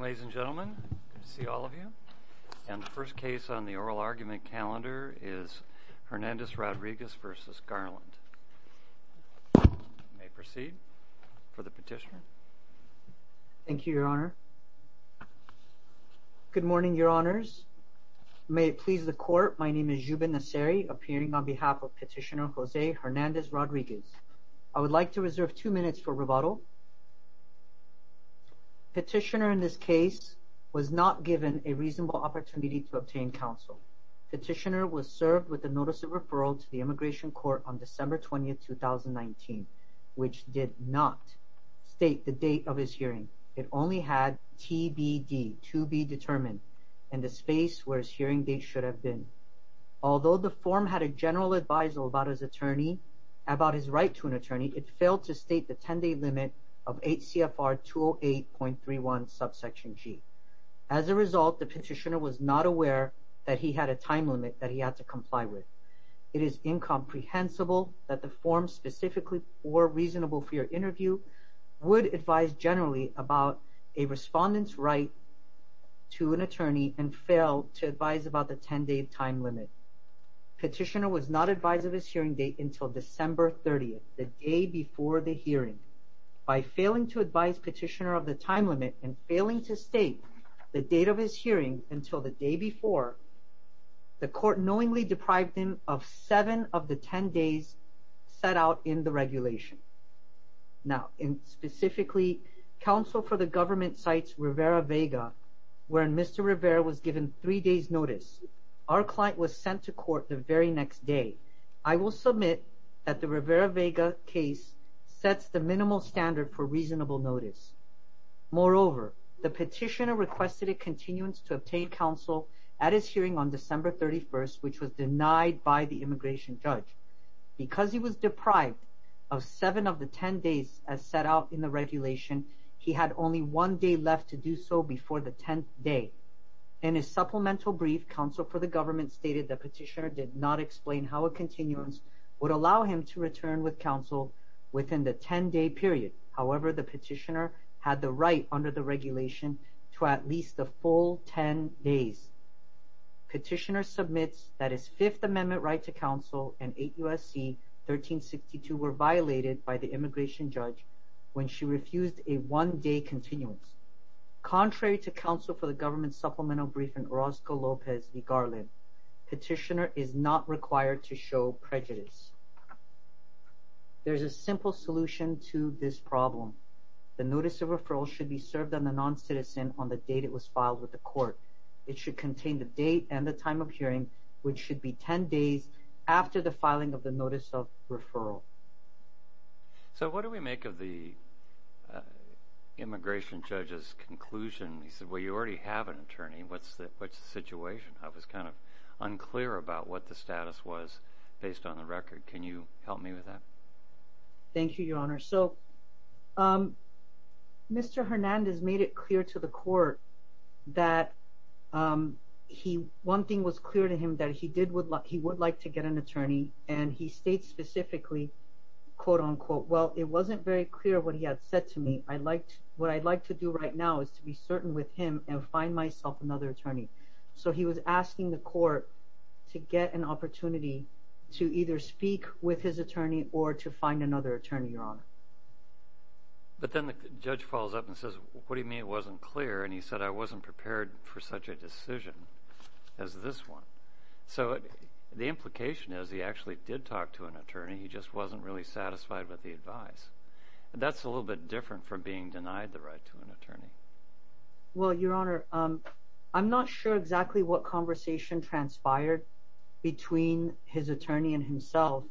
Ladies and gentlemen, good to see all of you, and the first case on the Oral Argument Calendar is Hernandez Rodriguez v. Garland. You may proceed for the petitioner. Thank you, Your Honor. Good morning, Your Honors. May it please the Court, my name is Jubin Nasseri, appearing on behalf of Petitioner Jose Hernandez Rodriguez. I would like to not given a reasonable opportunity to obtain counsel. Petitioner was served with a Notice of Referral to the Immigration Court on December 20, 2019, which did not state the date of his hearing. It only had TBD to be determined, and the space where his hearing date should have been. Although the form had a general adviso about his attorney, about his right to an attorney, it failed to state the 10-day limit of HCFR 208.31, subsection G. As a result, the petitioner was not aware that he had a time limit that he had to comply with. It is incomprehensible that the form specifically or reasonable for your interview would advise generally about a respondent's right to an attorney and fail to advise about the 10-day time limit. Petitioner was not advised of his hearing date until December 30, the day before the hearing. By failing to advise Petitioner of the time limit and failing to state the date of his hearing until the day before, the Court knowingly deprived him of seven of the 10 days set out in the regulation. Now, specifically, counsel for the government cites Rivera-Vega, where Mr. Rivera was given three days' notice. Our client was sent to court the very next day. I will submit that the Rivera-Vega case sets the minimal standard for reasonable notice. Moreover, the petitioner requested a continuance to obtain counsel at his hearing on December 31, which was denied by the immigration judge. Because he was deprived of seven of the 10 days as set out in the regulation, he had only one day left to do so before the 10th day. In his supplemental brief, counsel for the government stated that Petitioner did not explain how a continuance would allow him to return with counsel within the 10-day period. However, the petitioner had the right under the regulation to at least the full 10 days. Petitioner submits that his Fifth Amendment right to counsel and 8 U.S.C. 1362 were violated by the immigration judge when she refused a one-day continuance. Contrary to counsel for the government's supplemental brief in Orozco-Lopez v. Garland, Petitioner is not required to show prejudice. There is a simple solution to this problem. The notice of referral should be served on the non-citizen on the date it was filed with the court. It should contain the date and the time of hearing, which should be 10 days after the filing of the notice of referral. So what do we make of the immigration judge's conclusion? He said, well, you already have an attorney. What's the situation? I was kind of unclear about what the status was based on the record. Can you help me with that? Thank you, Your Honor. So Mr. Hernandez made it clear to the court that he one thing was clear to him that he did would like he would like to get an attorney and he states specifically quote unquote, well, it wasn't very clear what he had said to me. I liked what I'd like to do right now is to be certain with him and find myself another attorney. So he was prepared to find another attorney, Your Honor. But then the judge falls up and says, what do you mean it wasn't clear? And he said, I wasn't prepared for such a decision as this one. So the implication is he actually did talk to an attorney. He just wasn't really satisfied with the advice. That's a little bit different from being denied the right to an attorney. Well, Your Honor, I'm not sure exactly what conversation transpired between his attorney and himself.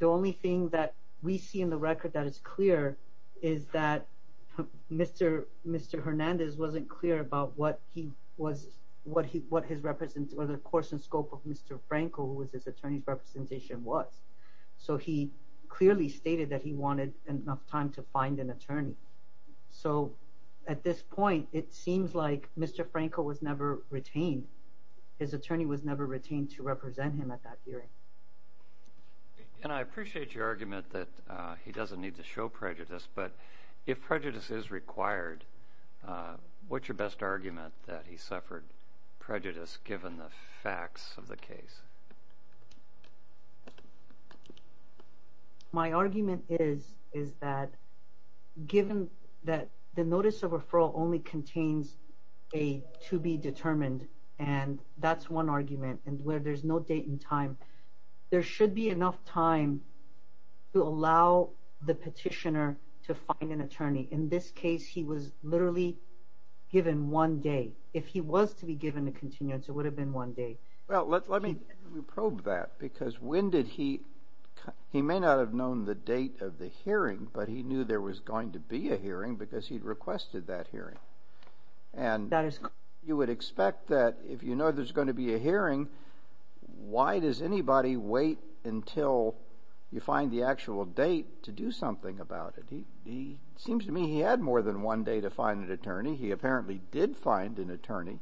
The only thing that we see in the record that is clear is that Mr. Mr. Hernandez wasn't clear about what he was, what he what his represent or the course and scope of Mr. Franco was his attorney's representation was. So he clearly stated that he wanted enough time to find an attorney. So at this point, it seems like Mr. Franco was never retained. His attorney was never retained to represent him at that hearing. And I appreciate your argument that he doesn't need to show prejudice. But if prejudice is required, what's your best argument that he suffered prejudice given the facts of the case? My argument is, is that given that the notice of referral only contains a to be determined, and that's one argument and where there's no date and time, there should be enough time to allow the petitioner to find an attorney. In this case, he was literally given one day. If he was to be given the continuance, it would have been one day. Well, let's let me probe that, because when did he, he may not have known the date of the hearing, but he knew there was going to be a hearing because he'd requested that hearing. And that is, you would expect that if you know there's going to be a hearing, why does anybody wait until you find the actual date to do something about it? He seems to me he had more than one day to find an attorney. He apparently did find an attorney.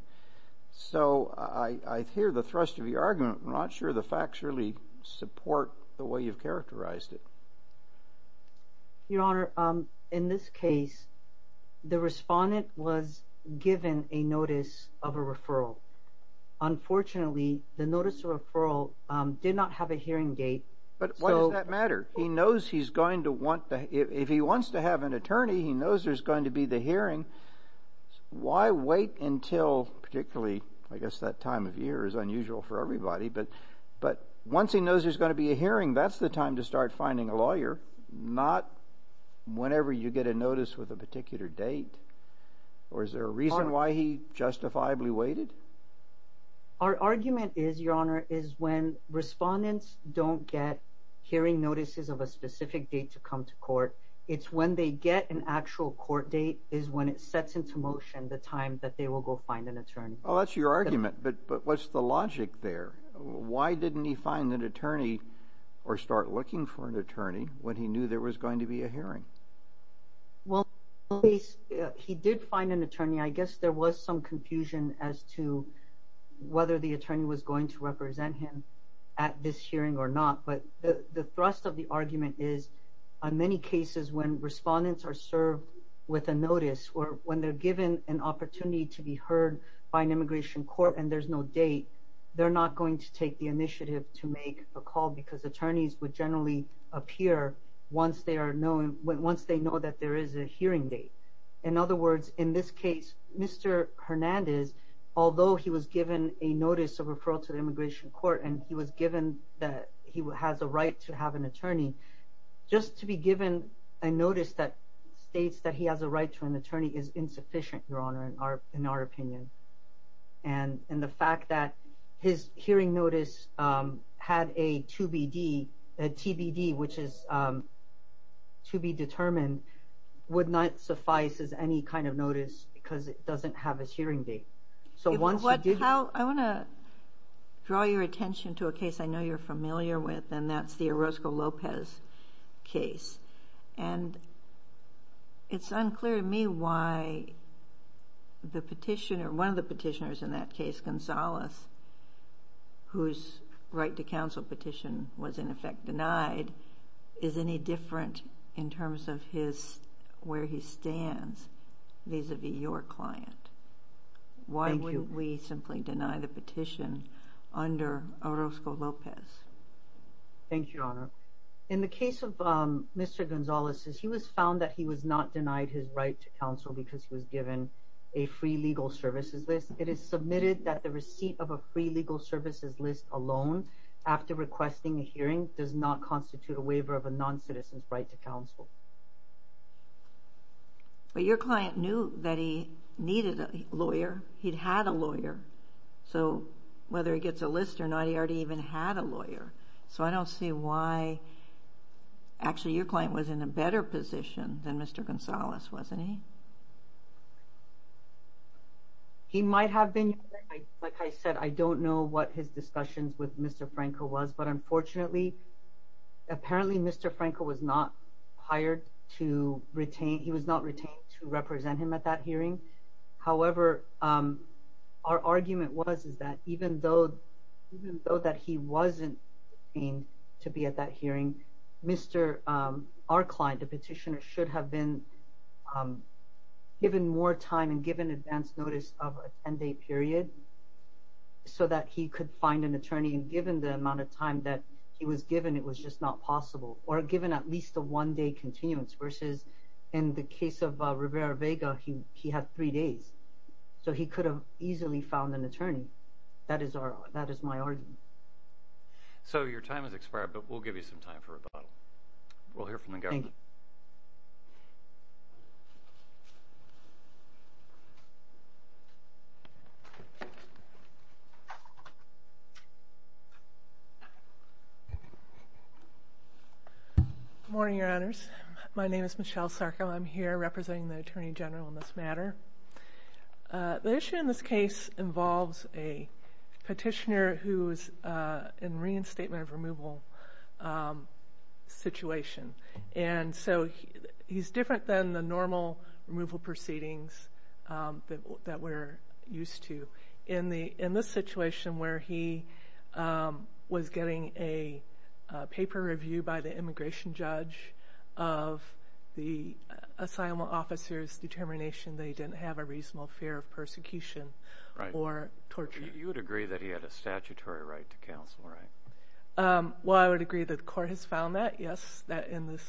So I hear the thrust of your argument. I'm not sure the facts really support the way you've characterized it. Your Honor, in this case, the respondent was given a notice of a referral. Unfortunately, the notice of referral did not have a hearing date. But why does that matter? He knows he's going to want to, if he wants to have an attorney, he knows there's going to be the hearing. Why wait until, particularly, I guess that time of year is unusual for everybody, but once he knows there's going to be a hearing, that's the time to start finding a lawyer, not whenever you get a notice with a particular date. Or is there a reason why he justifiably waited? Our argument is, Your Honor, is when respondents don't get hearing notices of a specific date to come to court, it's when they get an actual court date is when it sets into motion the time that they will go find an attorney. Well, that's your argument. But what's the logic there? Why didn't he find an attorney or start looking for an attorney when he knew there was going to be a hearing? Well, he did find an attorney. I guess there was some confusion as to whether the attorney was going to represent him at this hearing or not. But the thrust of the argument is, on many cases when respondents are served with a notice or when they're given an opportunity to be heard by an immigration court and there's no date, they're not going to take the initiative to make a call because attorneys would generally appear once they know that there is a hearing date. In other words, in this case, Mr. Hernandez, although he was given a notice of referral to the immigration court and he was given that he has a right to have an attorney, just to be given a notice that states that he has a right to an attorney is insufficient, Your Honor, in our opinion. And the fact that his hearing notice had a TBD, which is to be determined, would not suffice as any kind of notice because it doesn't have a hearing date. I want to draw your attention to a case I know you're familiar with, and that's the Orozco Lopez case. And it's unclear to me why one of the petitioners in that case, Gonzales, whose right to counsel petition was in effect denied, is any different in terms of where he stands vis-a-vis your client. Why wouldn't we simply deny the petition under Orozco Lopez? Thank you, Your Honor. In the case of Mr. Gonzales, he was found that he was not denied his right to counsel because he was given a free legal services list. It is submitted that the receipt of a free legal services list alone, after requesting a hearing, does not constitute a waiver of a non-citizen's right to counsel. Your client knew that he needed a lawyer. He'd had a lawyer. So whether he gets a list or not, he already even had a lawyer. So I don't see why... Actually, your client was in a better position than Mr. Gonzales, wasn't he? He might have been. Like I said, I don't know what his discussions with Mr. Franco was, but unfortunately, apparently Mr. Franco was not hired to retain... He was not retained to represent him at that hearing. However, our argument was, is that even though that he wasn't retained to be at that hearing, our client, the petitioner, should have been given more time and given advance notice of a 10-day period so that he could find an attorney and given the amount of time that he was given, it was just not possible, or given at least a one-day continuance, versus in the case of Rivera-Vega, he had three days. So he could have easily found an attorney. That is my argument. So your time has expired, but we'll give you some time for rebuttal. We'll hear from the attorney general. Good morning, your honors. My name is Michelle Sarko. I'm here representing the attorney general in this matter. The issue in this case involves a petitioner who's in reinstatement of removal situation. And so he's different than the normal removal proceedings that we're used to. In this situation where he was getting a paper review by the immigration judge of the assignment officer's determination that he didn't have a reasonable fear of persecution or torture. You would agree that he had a statutory right to counsel, right? Well, I would agree that the court has found that, yes, that in this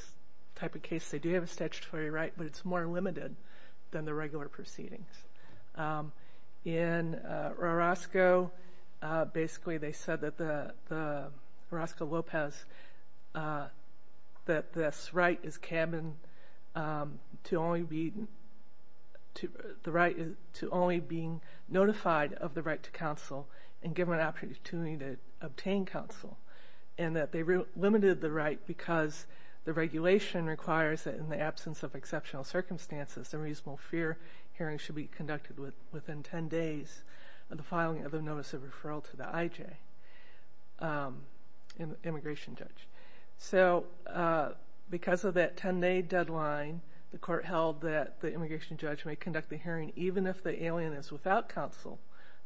type of case they do have a statutory right, but it's more limited than the regular proceedings. In Orozco, basically they said that the, Orozco-Lopez, that this right is cabin to only be, the right to only being notified of the right to counsel and given an opportunity to obtain counsel. And that they limited the right because the regulation requires that in the absence of exceptional circumstances, a reasonable fear hearing should be conducted within 10 days of the filing of the notice of referral to the IJ, immigration judge. So because of that 10 day deadline, the court held that the immigration judge may conduct the hearing even if the alien is without counsel,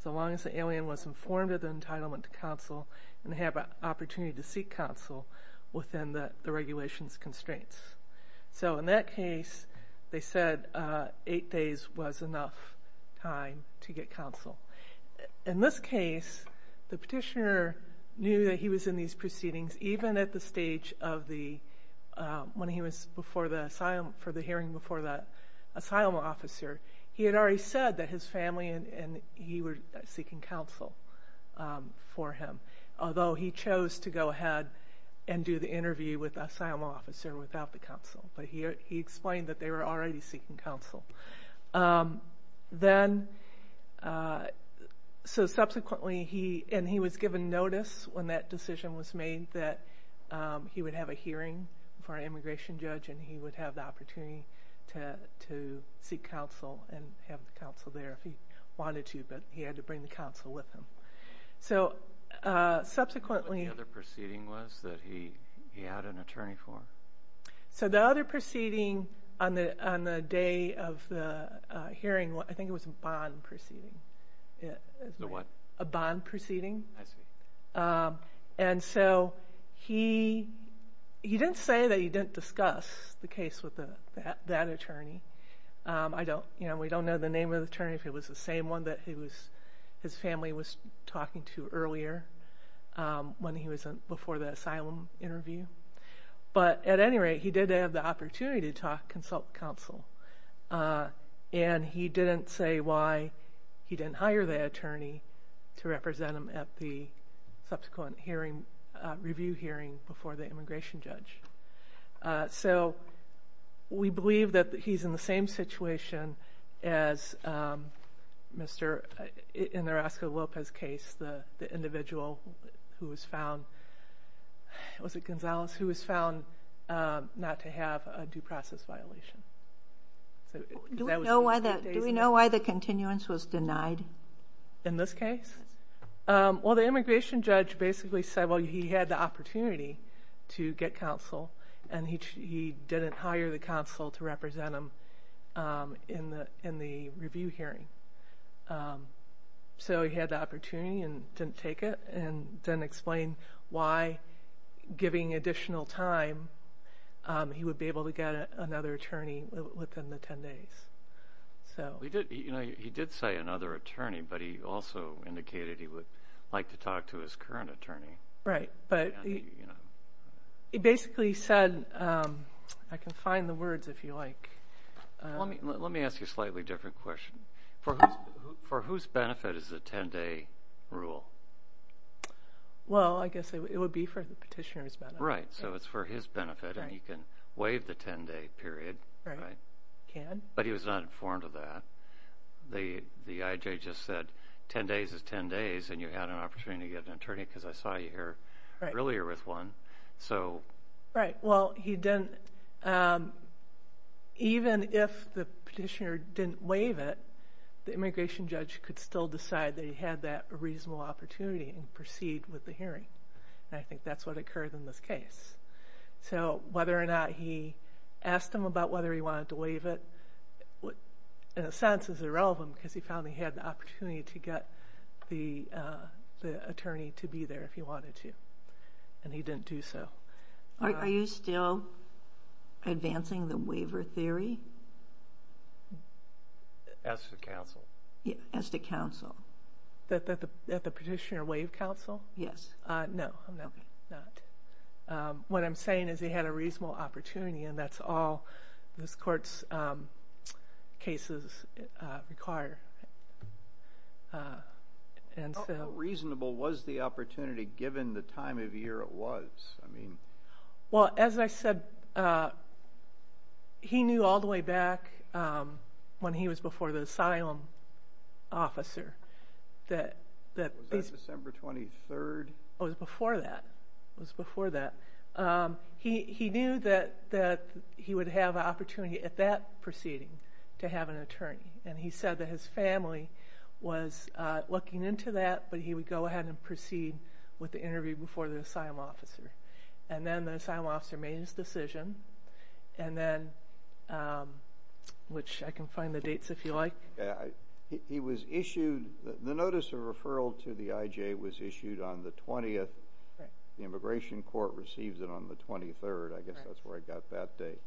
so long as the alien was informed of the entitlement to counsel and have an opportunity to seek counsel within the regulations constraints. So in that case they said 8 days was enough time to get counsel. In this case, the petitioner knew that he was in these proceedings even at the stage of the, when he was before the, for the hearing before the asylum officer, he had already said that his family and he were seeking counsel for him, although he chose to go ahead and do the interview with the asylum officer without the counsel, but he explained that they were already seeking counsel. Then, so subsequently he, and he was given notice when that decision was made that he would have a hearing for an immigration judge and he would have the opportunity to seek counsel and have the counsel there if he wanted to, but he had to bring the counsel with him. So subsequently... What the other proceeding was that he had an attorney for? So the other proceeding on the day of the hearing, I think it was a bond proceeding. A what? A bond proceeding. I see. And so he, he didn't say that he didn't discuss the case with that attorney. I don't, you know, we don't know the name of the attorney, if it was the same one that he was, his family was talking to earlier when he was before the asylum interview. But at any rate, he did have the reason why he didn't hire the attorney to represent him at the subsequent hearing, review hearing before the immigration judge. So we believe that he's in the same situation as Mr., in the Orozco-Lopez case, the individual who was found, was it Gonzalez, who was found not to have a due process violation. Do we know why the continuance was denied? In this case? Yes. Well, the immigration judge basically said, well, he had the opportunity to get counsel, and he didn't hire the counsel to represent him in the review hearing. So he had the opportunity and didn't take it, and didn't explain why, giving additional time, he would be able to get another attorney within the 10 days. He did say another attorney, but he also indicated he would like to talk to his current attorney. Right, but he basically said, I can find the words if you like. Let me ask you a slightly different question. For whose benefit is the 10-day rule? Well, I guess it would be for the petitioner's benefit. Right, so it's for his benefit, and he can waive the 10-day period. Right, can. But he was not informed of that. The IJ just said 10 days is 10 days, and you had an opportunity to get an attorney, because I saw you here earlier with one. Right, well, even if the petitioner didn't waive it, the immigration judge could still decide that he had that reasonable opportunity and proceed with the hearing. And I think that's what occurred in this case. So whether or not he asked him about whether he wanted to waive it, in a sense, is irrelevant, because he found he had the opportunity to get the attorney to be there if he wanted to, and he didn't do so. Are you still advancing the waiver theory? As to counsel. Yeah, as to counsel. That the petitioner waived counsel? Yes. No, I'm not. What I'm saying is he had a reasonable opportunity, and that's all this Court's cases require. How reasonable was the opportunity, given the time of year it was? Well, as I said, he knew all the way back when he was before the asylum officer that Was that December 23rd? It was before that. It was before that. He knew that he would have an opportunity at that proceeding to have an attorney, and he said that his family was looking into that, but he would go ahead and proceed with the interview before the asylum officer. And then the asylum officer made his decision, which I can find the dates if you like. The notice of referral to the IJ was issued on the 20th. The immigration court receives it on the 23rd. I guess that's where I got that date.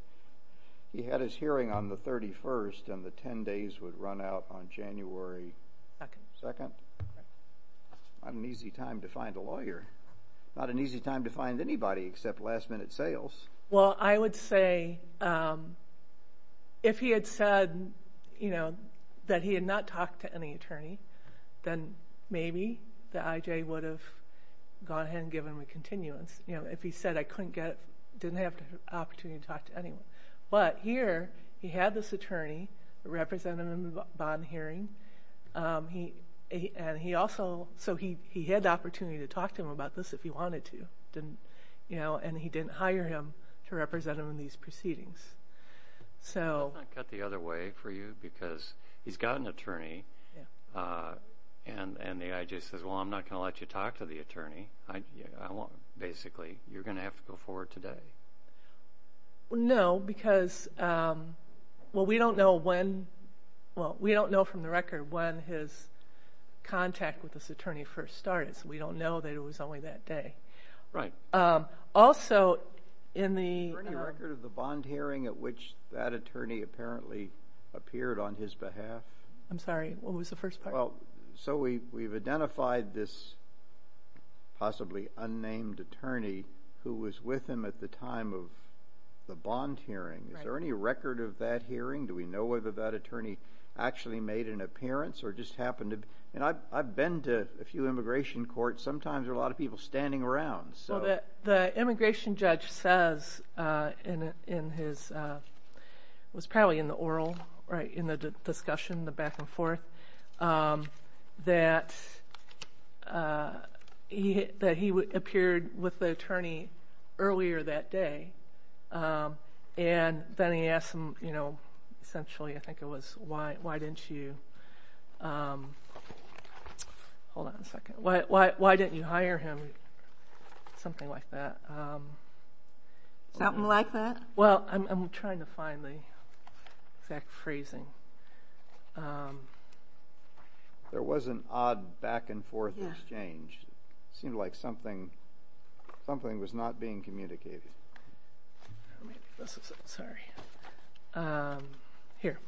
He had his hearing on the 31st, and the 10 days would run out on January 2nd. Not an easy time to find a lawyer. Not an easy time to find anybody except last-minute sales. Well, I would say if he had said that he had not talked to any attorney, then maybe the IJ would have gone ahead and given him a continuance if he said, I couldn't get it, didn't have the opportunity to talk to anyone. But here he had this attorney representing him in the bond hearing, and he also had the opportunity to talk to him about this if he wanted to, and he didn't hire him to represent him in these proceedings. Can I cut the other way for you? Because he's got an attorney, and the IJ says, well, I'm not going to let you talk to the attorney. Basically, you're going to have to go forward today. No, because we don't know from the record when his contact with this attorney first started, so we don't know that it was only that day. Also, in the – Is there any record of the bond hearing at which that attorney apparently appeared on his behalf? I'm sorry, what was the first part? So we've identified this possibly unnamed attorney who was with him at the time of the bond hearing. Is there any record of that hearing? Do we know whether that attorney actually made an appearance or just happened to – I've been to a few immigration courts. Sometimes there are a lot of people standing around. The immigration judge says in his – it was probably in the oral, right, in the discussion, the back and forth, that he appeared with the attorney earlier that day, and then he asked him essentially, I think it was, why didn't you – hold on a second. Why didn't you hire him? Something like that. Something like that? Well, I'm trying to find the exact phrasing. There was an odd back and forth exchange. It seemed like something was not being communicated. Sorry. Here.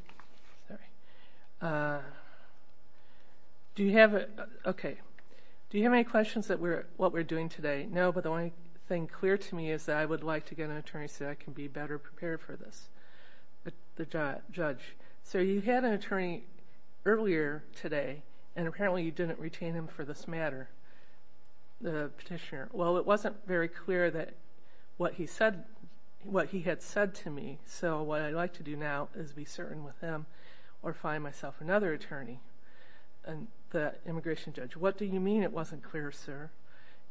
Do you have – okay. Do you have any questions about what we're doing today? No, but the only thing clear to me is that I would like to get an attorney so I can be better prepared for this, the judge. Sir, you had an attorney earlier today, and apparently you didn't retain him for this matter, the petitioner. Well, it wasn't very clear that what he said – what he had said to me, so what I'd like to do now is be certain with him or find myself another attorney, the immigration judge. What do you mean it wasn't clear, sir?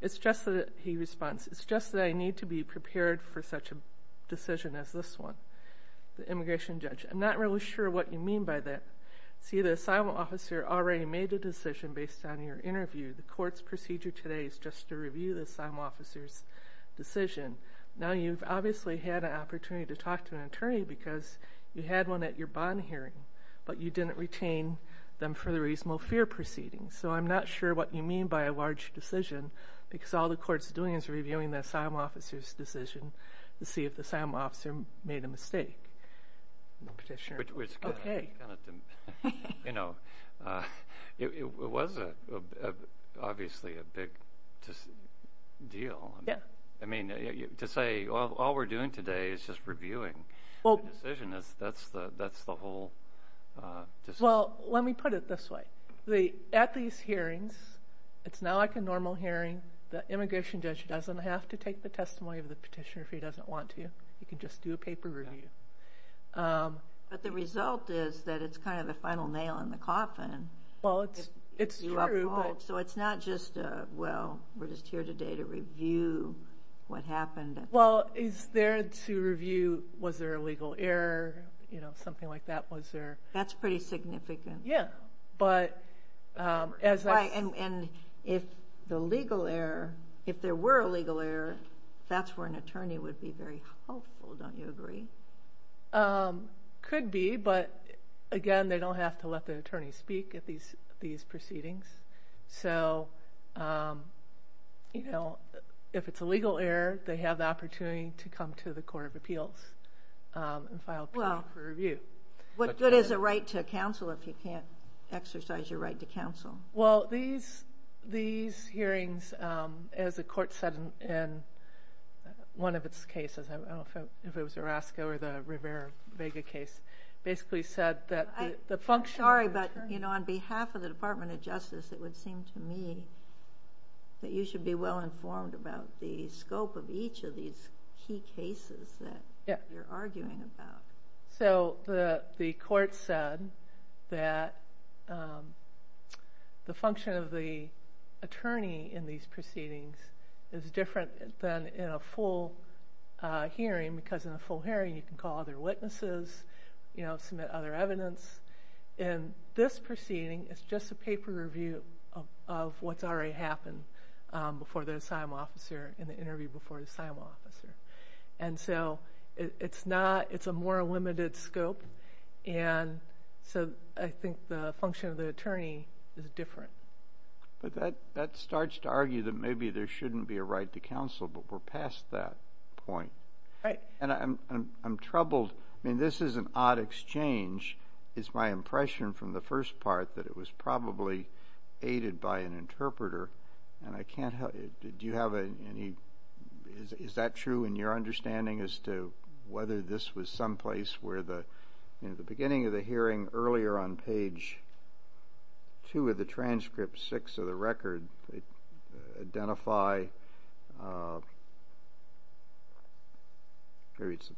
It's just that – he responds – it's just that I need to be prepared for such a decision as this one, the immigration judge. I'm not really sure what you mean by that. See, the asylum officer already made a decision based on your interview. The court's procedure today is just to review the asylum officer's decision. Now, you've obviously had an opportunity to talk to an attorney because you had one at your bond hearing, but you didn't retain them for the reasonable fear proceeding. So I'm not sure what you mean by a large decision because all the court's doing is reviewing the asylum officer's decision to see if the asylum officer made a mistake. Okay. You know, it was obviously a big deal. Yeah. I mean, to say all we're doing today is just reviewing the decision, that's the whole decision. Well, let me put it this way. At these hearings, it's not like a normal hearing. The immigration judge doesn't have to take the testimony of the petitioner if he doesn't want to. He can just do a paper review. But the result is that it's kind of the final nail in the coffin. Well, it's true. So it's not just, well, we're just here today to review what happened. Well, it's there to review was there a legal error, you know, something like that was there. That's pretty significant. Yeah. And if the legal error, if there were a legal error, that's where an attorney would be very helpful, don't you agree? Could be. But, again, they don't have to let the attorney speak at these proceedings. So, you know, if it's a legal error, they have the opportunity to come to the Court of Appeals and file a paper review. What good is a right to counsel if you can't exercise your right to counsel? Well, these hearings, as the Court said in one of its cases, I don't know if it was Orozco or the Rivera-Vega case, basically said that the function of the attorney. Sorry, but, you know, on behalf of the Department of Justice, it would seem to me that you should be well informed about the scope of each of these key cases that you're arguing about. So the Court said that the function of the attorney in these proceedings is different than in a full hearing, because in a full hearing, you can call other witnesses, you know, submit other evidence. In this proceeding, it's just a paper review of what's already happened before the assigned officer in the interview before the assigned officer. And so it's a more limited scope, and so I think the function of the attorney is different. But that starts to argue that maybe there shouldn't be a right to counsel, but we're past that point. Right. And I'm troubled. I mean, this is an odd exchange. It's my impression from the first part that it was probably aided by an interpreter, and I can't help you. Do you have any ñ is that true in your understanding as to whether this was someplace where the, you know, the beginning of the hearing earlier on page 2 of the transcript, 6 of the record, identify ñ maybe it's the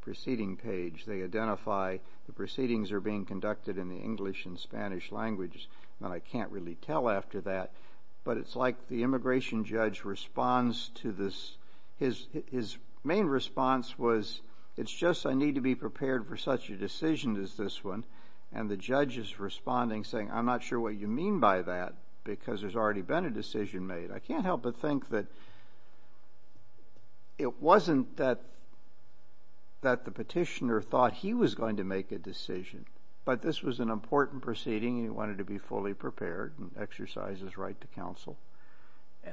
proceeding page. They identify the proceedings are being conducted in the English and Spanish languages, and I can't really tell after that. But it's like the immigration judge responds to this. His main response was, it's just I need to be prepared for such a decision as this one. And the judge is responding saying, I'm not sure what you mean by that, because there's already been a decision made. I can't help but think that it wasn't that the petitioner thought he was going to make a decision, but this was an important proceeding and he wanted to be fully prepared and exercise his right to counsel.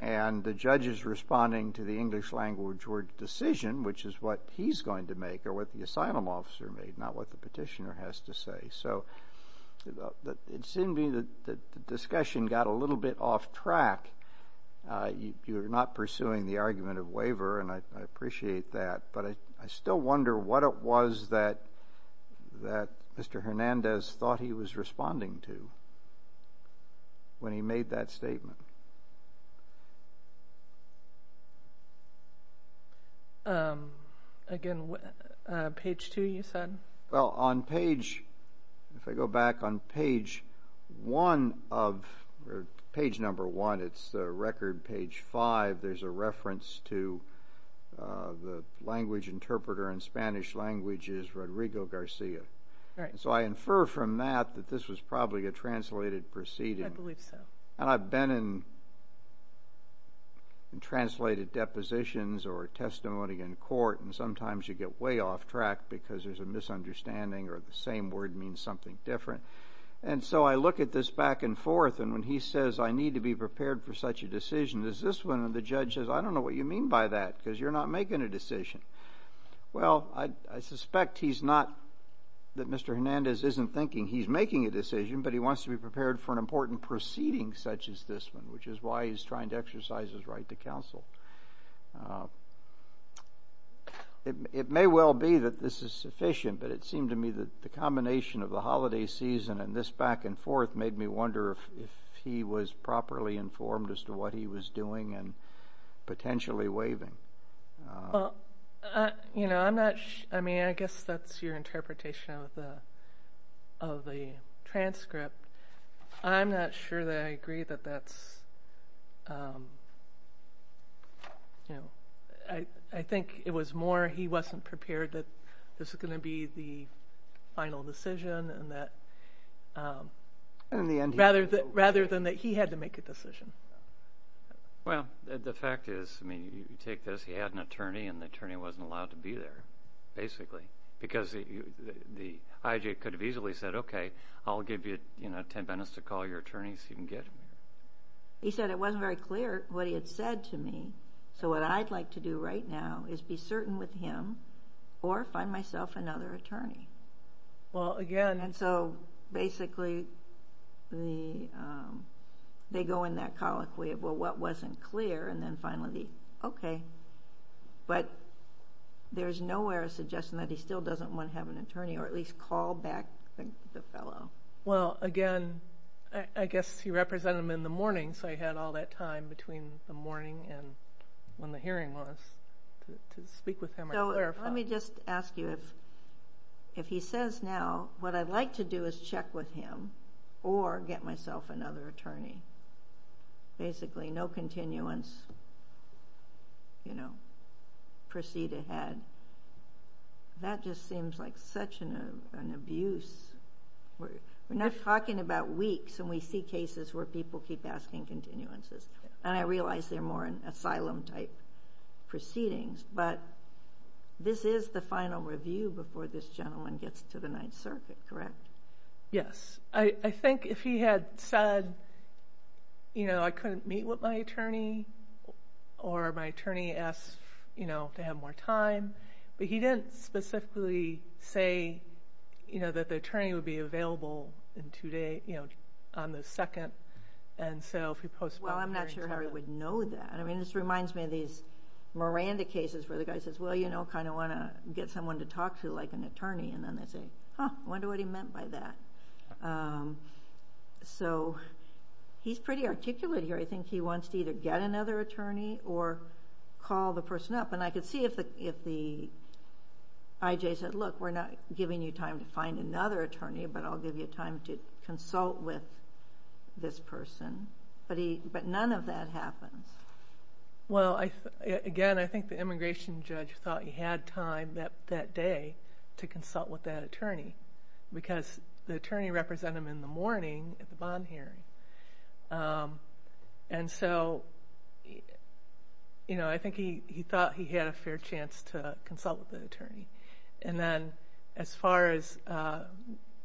And the judge is responding to the English language word decision, which is what he's going to make or what the asylum officer made, not what the petitioner has to say. So it seemed to me that the discussion got a little bit off track. You're not pursuing the argument of waiver, and I appreciate that, but I still wonder what it was that Mr. Hernandez thought he was responding to when he made that statement. Again, page two you said? Well, on page, if I go back on page one of page number one, it's record page five. There's a reference to the language interpreter in Spanish language is Rodrigo Garcia. So I infer from that that this was probably a translated proceeding. I believe so. And I've been in translated depositions or testimony in court, and sometimes you get way off track because there's a misunderstanding or the same word means something different. And so I look at this back and forth, and when he says, I need to be prepared for such a decision, there's this one, and the judge says, I don't know what you mean by that because you're not making a decision. Well, I suspect he's not, that Mr. Hernandez isn't thinking he's making a decision, but he wants to be prepared for an important proceeding such as this one, which is why he's trying to exercise his right to counsel. It may well be that this is sufficient, but it seemed to me that the combination of the holiday season and this back and forth made me wonder if he was properly informed as to what he was doing and potentially waiving. I guess that's your interpretation of the transcript. I'm not sure that I agree that that's, I think it was more he wasn't prepared that this was going to be the final decision. Rather than that he had to make a decision. Well, the fact is, I mean, you take this, he had an attorney, and the attorney wasn't allowed to be there, basically, because the IJ could have easily said, okay, I'll give you ten minutes to call your attorney so you can get him here. He said it wasn't very clear what he had said to me, so what I'd like to do right now is be certain with him or find myself another attorney. And so, basically, they go in that colloquy of, well, what wasn't clear, and then finally, okay. But there's nowhere suggesting that he still doesn't want to have an attorney or at least call back the fellow. Well, again, I guess he represented him in the morning, so he had all that time between the morning and when the hearing was to speak with him or clarify. Let me just ask you, if he says now what I'd like to do is check with him or get myself another attorney, basically no continuance, you know, proceed ahead, that just seems like such an abuse. We're not talking about weeks, and we see cases where people keep asking continuances, and I realize they're more in asylum-type proceedings, but this is the final review before this gentleman gets to the Ninth Circuit, correct? Yes. I think if he had said, you know, I couldn't meet with my attorney or my attorney asked, you know, to have more time, but he didn't specifically say, you know, that the attorney would be available in two days, you know, on the second. Well, I'm not sure Harry would know that. I mean, this reminds me of these Miranda cases where the guy says, well, you know, kind of want to get someone to talk to like an attorney, and then they say, huh, I wonder what he meant by that. So he's pretty articulate here. I think he wants to either get another attorney or call the person up, and I could see if the IJ said, look, we're not giving you time to find another attorney, but I'll give you time to consult with this person. But none of that happens. Well, again, I think the immigration judge thought he had time that day to consult with that attorney because the attorney represented him in the morning at the bond hearing. And so, you know, I think he thought he had a fair chance to consult with the attorney. And then as far as,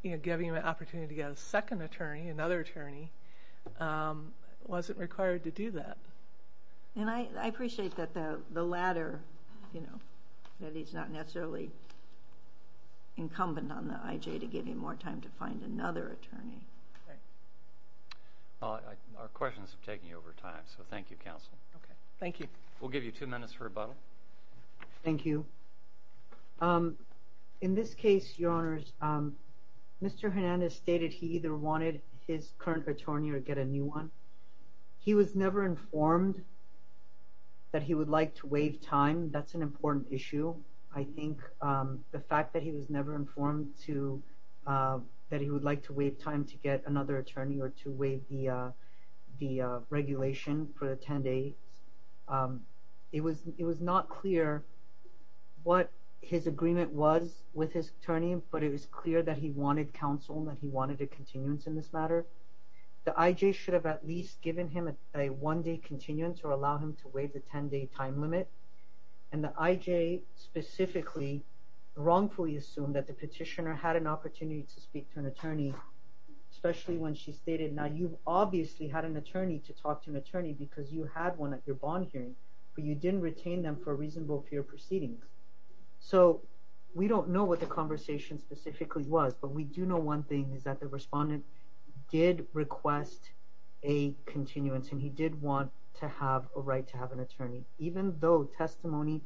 you know, giving him an opportunity to get a second attorney, another attorney, wasn't required to do that. And I appreciate that the latter, you know, that he's not necessarily incumbent on the IJ to give him more time to find another attorney. Our questions are taking over time, so thank you, counsel. Okay, thank you. We'll give you two minutes for rebuttal. Thank you. In this case, Your Honors, Mr. Hernandez stated he either wanted his current attorney or get a new one. He was never informed that he would like to waive time. That's an important issue. I think the fact that he was never informed that he would like to waive time to get another attorney or to waive the regulation for the 10 days, it was not clear what his agreement was with his attorney, but it was clear that he wanted counsel and that he wanted a continuance in this matter. The IJ should have at least given him a one-day continuance or allowed him to waive the 10-day time limit. And the IJ specifically wrongfully assumed that the petitioner had an opportunity to speak to an attorney, especially when she stated, now, you've obviously had an attorney to talk to an attorney because you had one at your bond hearing, but you didn't retain them for a reasonable period of proceedings. So we don't know what the conversation specifically was, but we do know one thing is that the respondent did request a continuance, and he did want to have a right to have an attorney, even though testimony,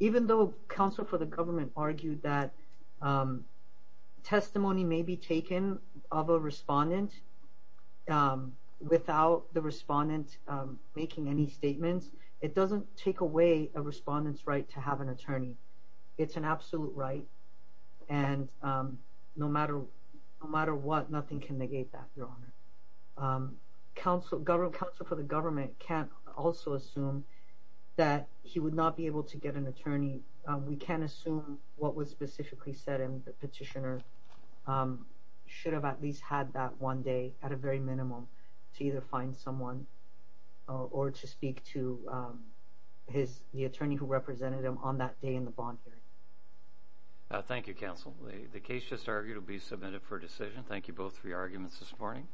even though counsel for the government argued that testimony may be taken of a respondent without the respondent making any statements, it doesn't take away a respondent's right to have an attorney. It's an absolute right, and no matter what, nothing can negate that, Your Honor. Counsel for the government can also assume that he would not be able to get an attorney. We can assume what was specifically said in the petitioner should have at least had that one day at a very minimum to either find someone or to speak to the attorney who represented him on that day in the bond hearing. Thank you, counsel. The case just argued will be submitted for decision. Thank you both for your arguments this morning.